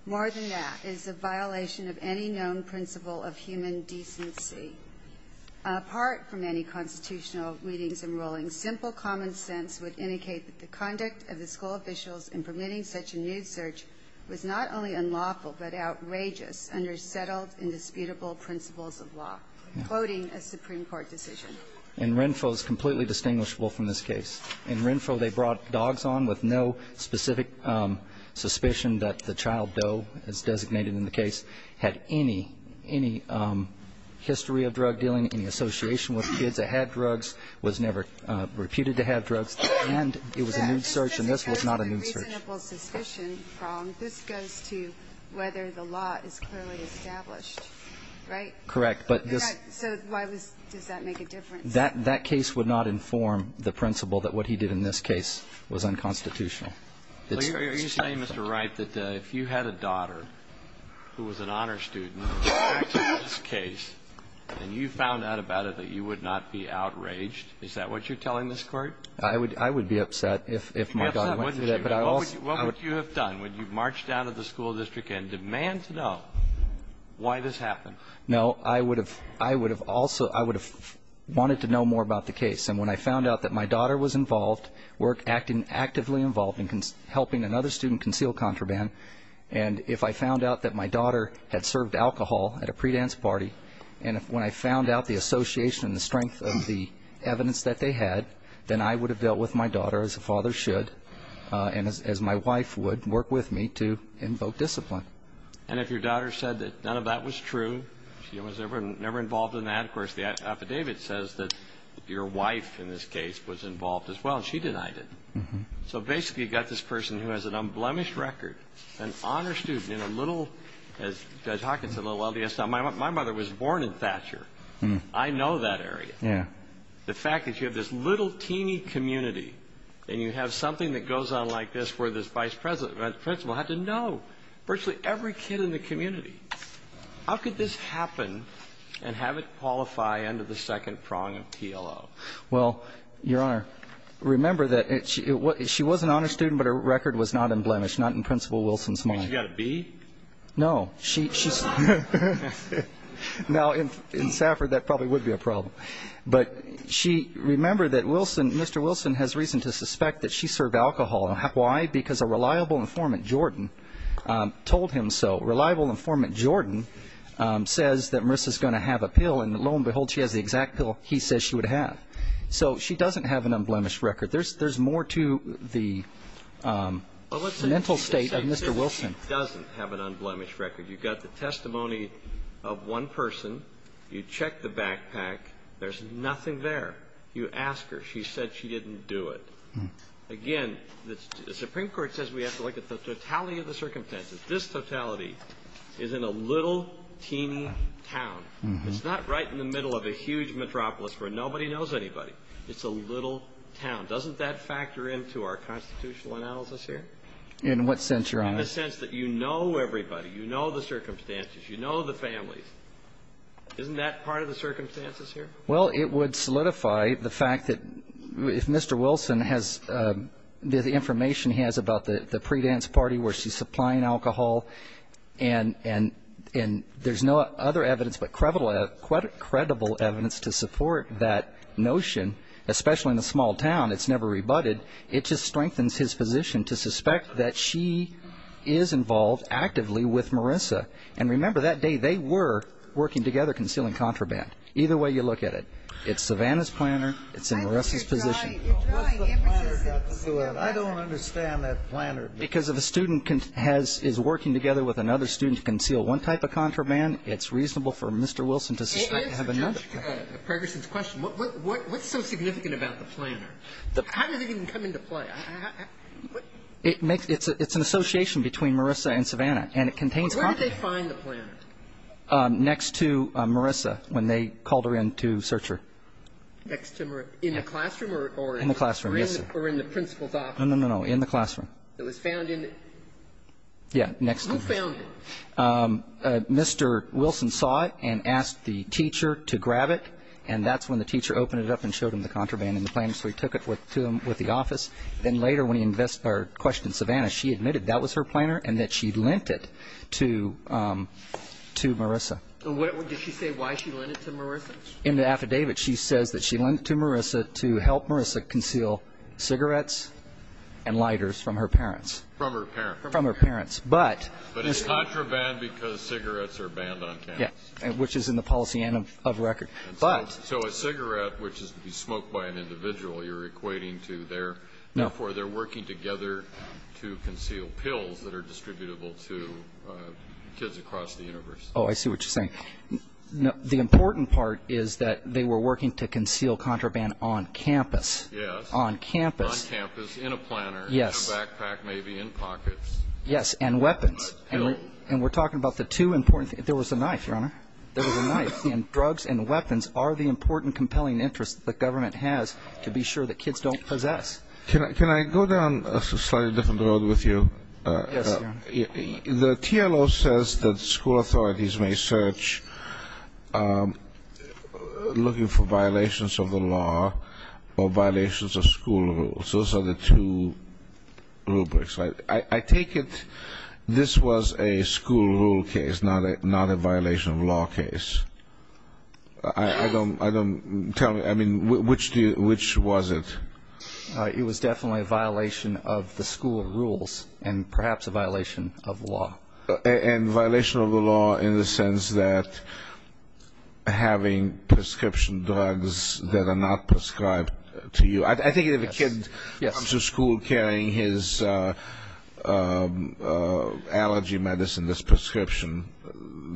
More than that is a violation of any known principle of human decency. Apart from any constitutional readings and rulings, simple common sense would indicate that the conduct of the school officials in permitting such a nude search was not only unlawful but outrageous under settled, indisputable principles of law, quoting a Supreme Court decision. And Renfrew is completely distinguishable from this case. In Renfrew, they brought dogs on with no specific suspicion that the child, though, as designated in the case, had any history of drug dealing, any association with kids that had drugs, was never reputed to have drugs, and it was a nude search, and this was not a nude search. So there's a reasonable suspicion from this goes to whether the law is clearly established, right? Correct. So why does that make a difference? That case would not inform the principle that what he did in this case was unconstitutional. Are you saying, Mr. Wright, that if you had a daughter who was an honor student in this case and you found out about it that you would not be outraged, is that what you're telling this Court? I would be upset if my daughter went through that. Okay. But what would you have done? Would you march down to the school district and demand to know why this happened? No. I would have also wanted to know more about the case. And when I found out that my daughter was involved, actively involved in helping another student conceal contraband, and if I found out that my daughter had served alcohol at a pre-dance party, and when I found out the association and the strength of the evidence that they had, then I would have dealt with my daughter, as a father should, and as my wife would, work with me to invoke discipline. And if your daughter said that none of that was true, she was never involved in that, of course the affidavit says that your wife in this case was involved as well, and she denied it. So basically you've got this person who has an unblemished record, an honor student, in a little, as Judge Hawkins said, a little LDS town. My mother was born in Thatcher. I know that area. Yeah. And the fact is you have this little teeny community, and you have something that goes on like this where this vice principal had to know. Virtually every kid in the community. How could this happen and have it qualify under the second prong of TLO? Well, Your Honor, remember that she was an honor student, but her record was not unblemished, not in Principal Wilson's mind. She got a B? No. Now, in Safford, that probably would be a problem. But remember that Mr. Wilson has reason to suspect that she served alcohol. Why? Because a reliable informant, Jordan, told him so. Reliable informant Jordan says that Marissa's going to have a pill, and lo and behold, she has the exact pill he says she would have. So she doesn't have an unblemished record. There's more to the mental state of Mr. Wilson. She doesn't have an unblemished record. You've got the testimony of one person. You check the backpack. There's nothing there. You ask her. She said she didn't do it. Again, the Supreme Court says we have to look at the totality of the circumstances. This totality is in a little teeny town. It's not right in the middle of a huge metropolis where nobody knows anybody. It's a little town. Doesn't that factor into our constitutional analysis here? In what sense, Your Honor? In the sense that you know everybody. You know the circumstances. You know the families. Isn't that part of the circumstances here? Well, it would solidify the fact that if Mr. Wilson has the information he has about the pre-dance party where she's supplying alcohol and there's no other evidence but credible evidence to support that notion, especially in a small town, it's never rebutted, it just strengthens his position to suspect that she is involved actively with Marissa. And remember that day they were working together concealing contraband. Either way you look at it, it's Savannah's planter, it's in Marissa's position. What's the planter got to do with it? I don't understand that planter. Because if a student is working together with another student to conceal one type of contraband, it's reasonable for Mr. Wilson to have another. To answer Judge Pregerson's question, what's so significant about the planter? How does it even come into play? It's an association between Marissa and Savannah, and it contains contraband. Where did they find the planter? Next to Marissa when they called her in to search her. Next to Marissa. In the classroom or in the principal's office? No, no, no, in the classroom. It was found in the ñ who found it? Mr. Wilson saw it and asked the teacher to grab it, and that's when the teacher opened it up and showed him the contraband in the planter. So he took it to him with the office. Then later when he questioned Savannah, she admitted that was her planter and that she lent it to Marissa. Did she say why she lent it to Marissa? In the affidavit she says that she lent it to Marissa to help Marissa conceal cigarettes and lighters from her parents. From her parents. From her parents. But it's contraband because cigarettes are banned on campus. Which is in the policy and of record. So a cigarette, which is to be smoked by an individual, you're equating to their ñ therefore they're working together to conceal pills that are distributable to kids across the universe. Oh, I see what you're saying. The important part is that they were working to conceal contraband on campus. Yes. On campus. On campus, in a planter, in a backpack maybe, in pockets. Yes, and weapons. And we're talking about the two important things. There was a knife, Your Honor. There was a knife. And drugs and weapons are the important compelling interests the government has to be sure that kids don't possess. Can I go down a slightly different road with you? Yes, Your Honor. The TLO says that school authorities may search looking for violations of the law or violations of school rules. Those are the two rubrics. I take it this was a school rule case, not a violation of law case. I don't ñ tell me, I mean, which was it? It was definitely a violation of the school rules and perhaps a violation of law. And violation of the law in the sense that having prescription drugs that are not prescribed to you. I think if a kid comes to school carrying his allergy medicine that's prescription,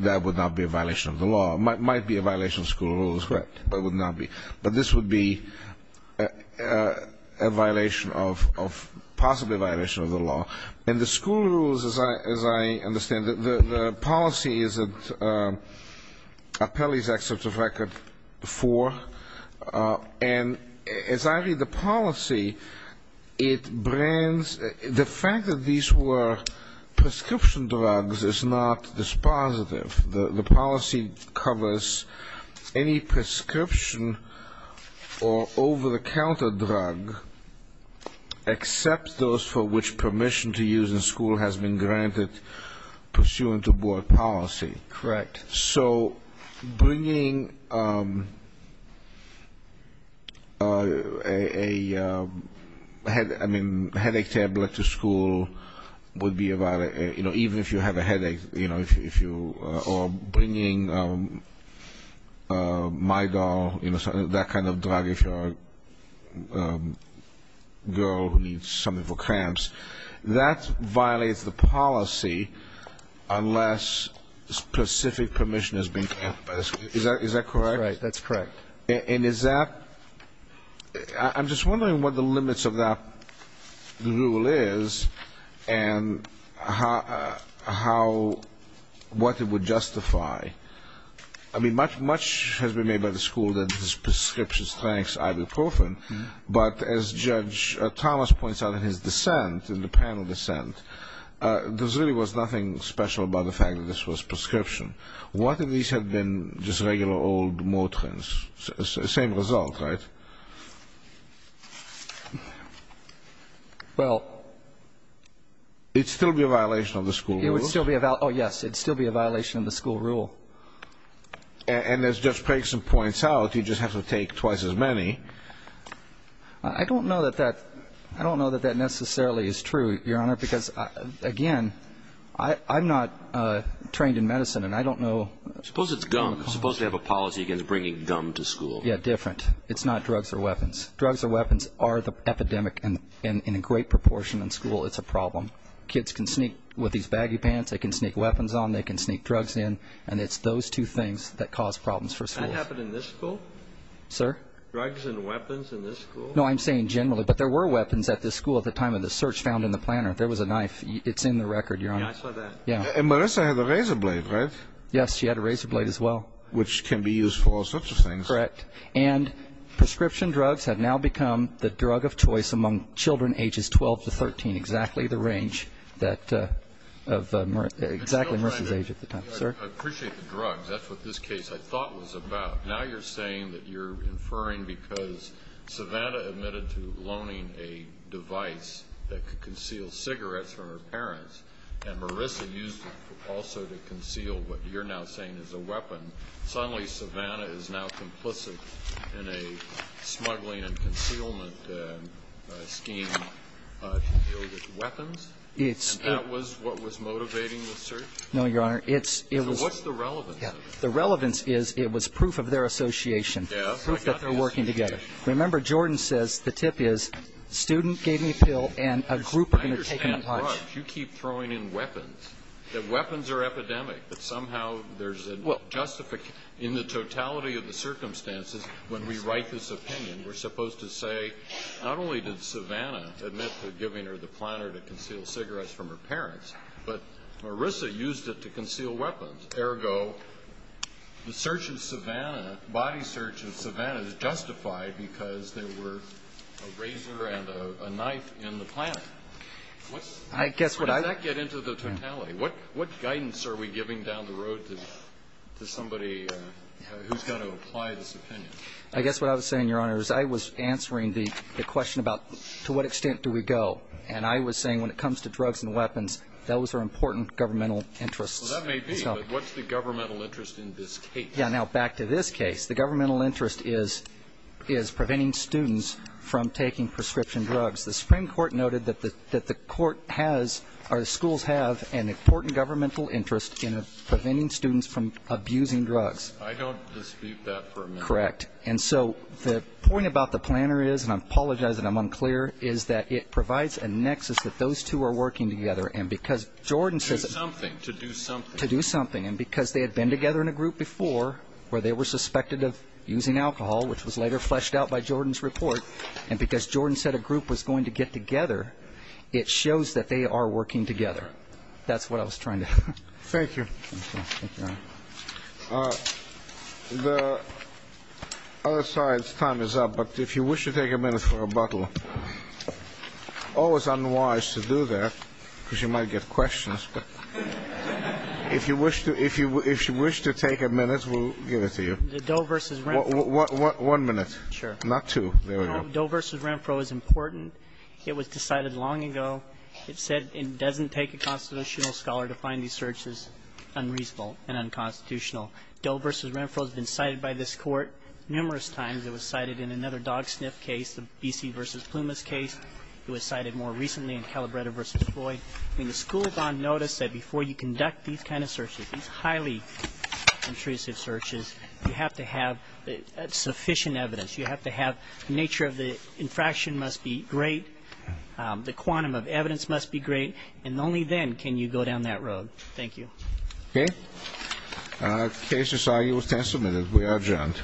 that would not be a violation of the law. It might be a violation of school rules, but it would not be. But this would be a violation of ñ possibly a violation of the law. And the school rules, as I understand it, the policy is at Appellee's Excerpt of Record 4. And as I read the policy, it brands ñ the fact that these were prescription drugs is not dispositive. The policy covers any prescription or over-the-counter drug except those for which permission to use in school has been granted pursuant to board policy. Correct. So bringing a headache tablet to school would be a violation, even if you have a headache, or bringing Midol, that kind of drug if you're a girl who needs something for cramps. That violates the policy unless specific permission has been granted by the school. Is that correct? Right. That's correct. And is that ñ I'm just wondering what the limits of that rule is and how ñ what it would justify. I mean, much has been made by the school that this prescription strikes ibuprofen. But as Judge Thomas points out in his dissent, in the panel dissent, there really was nothing special about the fact that this was prescription. What if these had been just regular old Motrins? Same result, right? Well. It would still be a violation of the school rules. It would still be a ñ oh, yes, it would still be a violation of the school rule. And as Judge Pregson points out, you just have to take twice as many. I don't know that that ñ I don't know that that necessarily is true, Your Honor, because, again, I'm not trained in medicine, and I don't know ñ Suppose it's gum. Suppose they have a policy against bringing gum to school. Yeah, different. It's not drugs or weapons. Drugs or weapons are the epidemic in a great proportion in school. It's a problem. Kids can sneak with these baggy pants. They can sneak weapons on. They can sneak drugs in. And it's those two things that cause problems for schools. Did that happen in this school? Sir? Drugs and weapons in this school? No, I'm saying generally. But there were weapons at this school at the time of the search found in the planner. There was a knife. It's in the record, Your Honor. Yeah, I saw that. Yeah. And Marissa had a razor blade, right? Yes, she had a razor blade as well. Which can be used for all sorts of things. Correct. And prescription drugs have now become the drug of choice among children ages 12 to 13, exactly Marissa's age at the time. Sir? I appreciate the drugs. That's what this case I thought was about. Now you're saying that you're inferring because Savannah admitted to loaning a device that could conceal cigarettes from her parents, and Marissa used it also to conceal what you're now saying is a weapon. Suddenly Savannah is now complicit in a smuggling and concealment scheme to deal with weapons? And that was what was motivating the search? No, Your Honor. So what's the relevance of it? The relevance is it was proof of their association, proof that they're working together. Remember, Jordan says the tip is student gave me a pill and a group are going to take it. You keep throwing in weapons, that weapons are epidemic, that somehow there's a justification. In the totality of the circumstances, when we write this opinion, we're supposed to say not only did Savannah admit to giving her the planner to conceal cigarettes from her parents, but Marissa used it to conceal weapons. Ergo, the search of Savannah, body search of Savannah is justified because there were a razor and a knife in the planner. Does that get into the totality? What guidance are we giving down the road to somebody who's going to apply this opinion? I guess what I was saying, Your Honor, is I was answering the question about to what extent do we go, and I was saying when it comes to drugs and weapons, those are important governmental interests. Well, that may be, but what's the governmental interest in this case? Yeah, now, back to this case. The governmental interest is preventing students from taking prescription drugs. The Supreme Court noted that the court has or the schools have an important governmental interest in preventing students from abusing drugs. I don't dispute that for a minute. Correct. And so the point about the planner is, and I apologize that I'm unclear, is that it provides a nexus that those two are working together. And because Jordan says it. To do something. To do something. To do something. And because they had been together in a group before where they were suspected of using alcohol, which was later fleshed out by Jordan's report, and because Jordan said a group was going to get together, it shows that they are working together. That's what I was trying to say. Thank you. Thank you, Your Honor. The other side's time is up, but if you wish to take a minute for rebuttal, always unwise to do that because you might get questions. But if you wish to take a minute, we'll give it to you. The Doe v. Renfro. One minute. Sure. Not two. There we go. Doe v. Renfro is important. It was decided long ago. It said it doesn't take a constitutional scholar to find these searches unreasonable and unconstitutional. Doe v. Renfro has been cited by this Court numerous times. It was cited in another dog sniff case, the BC v. Plumas case. It was cited more recently in Calabretta v. Floyd. I mean, the school bond notice said before you conduct these kind of searches, these highly intrusive searches, you have to have sufficient evidence. You have to have the nature of the infraction must be great. The quantum of evidence must be great. And only then can you go down that road. Thank you. Okay. Cases are used and submitted. We are adjourned.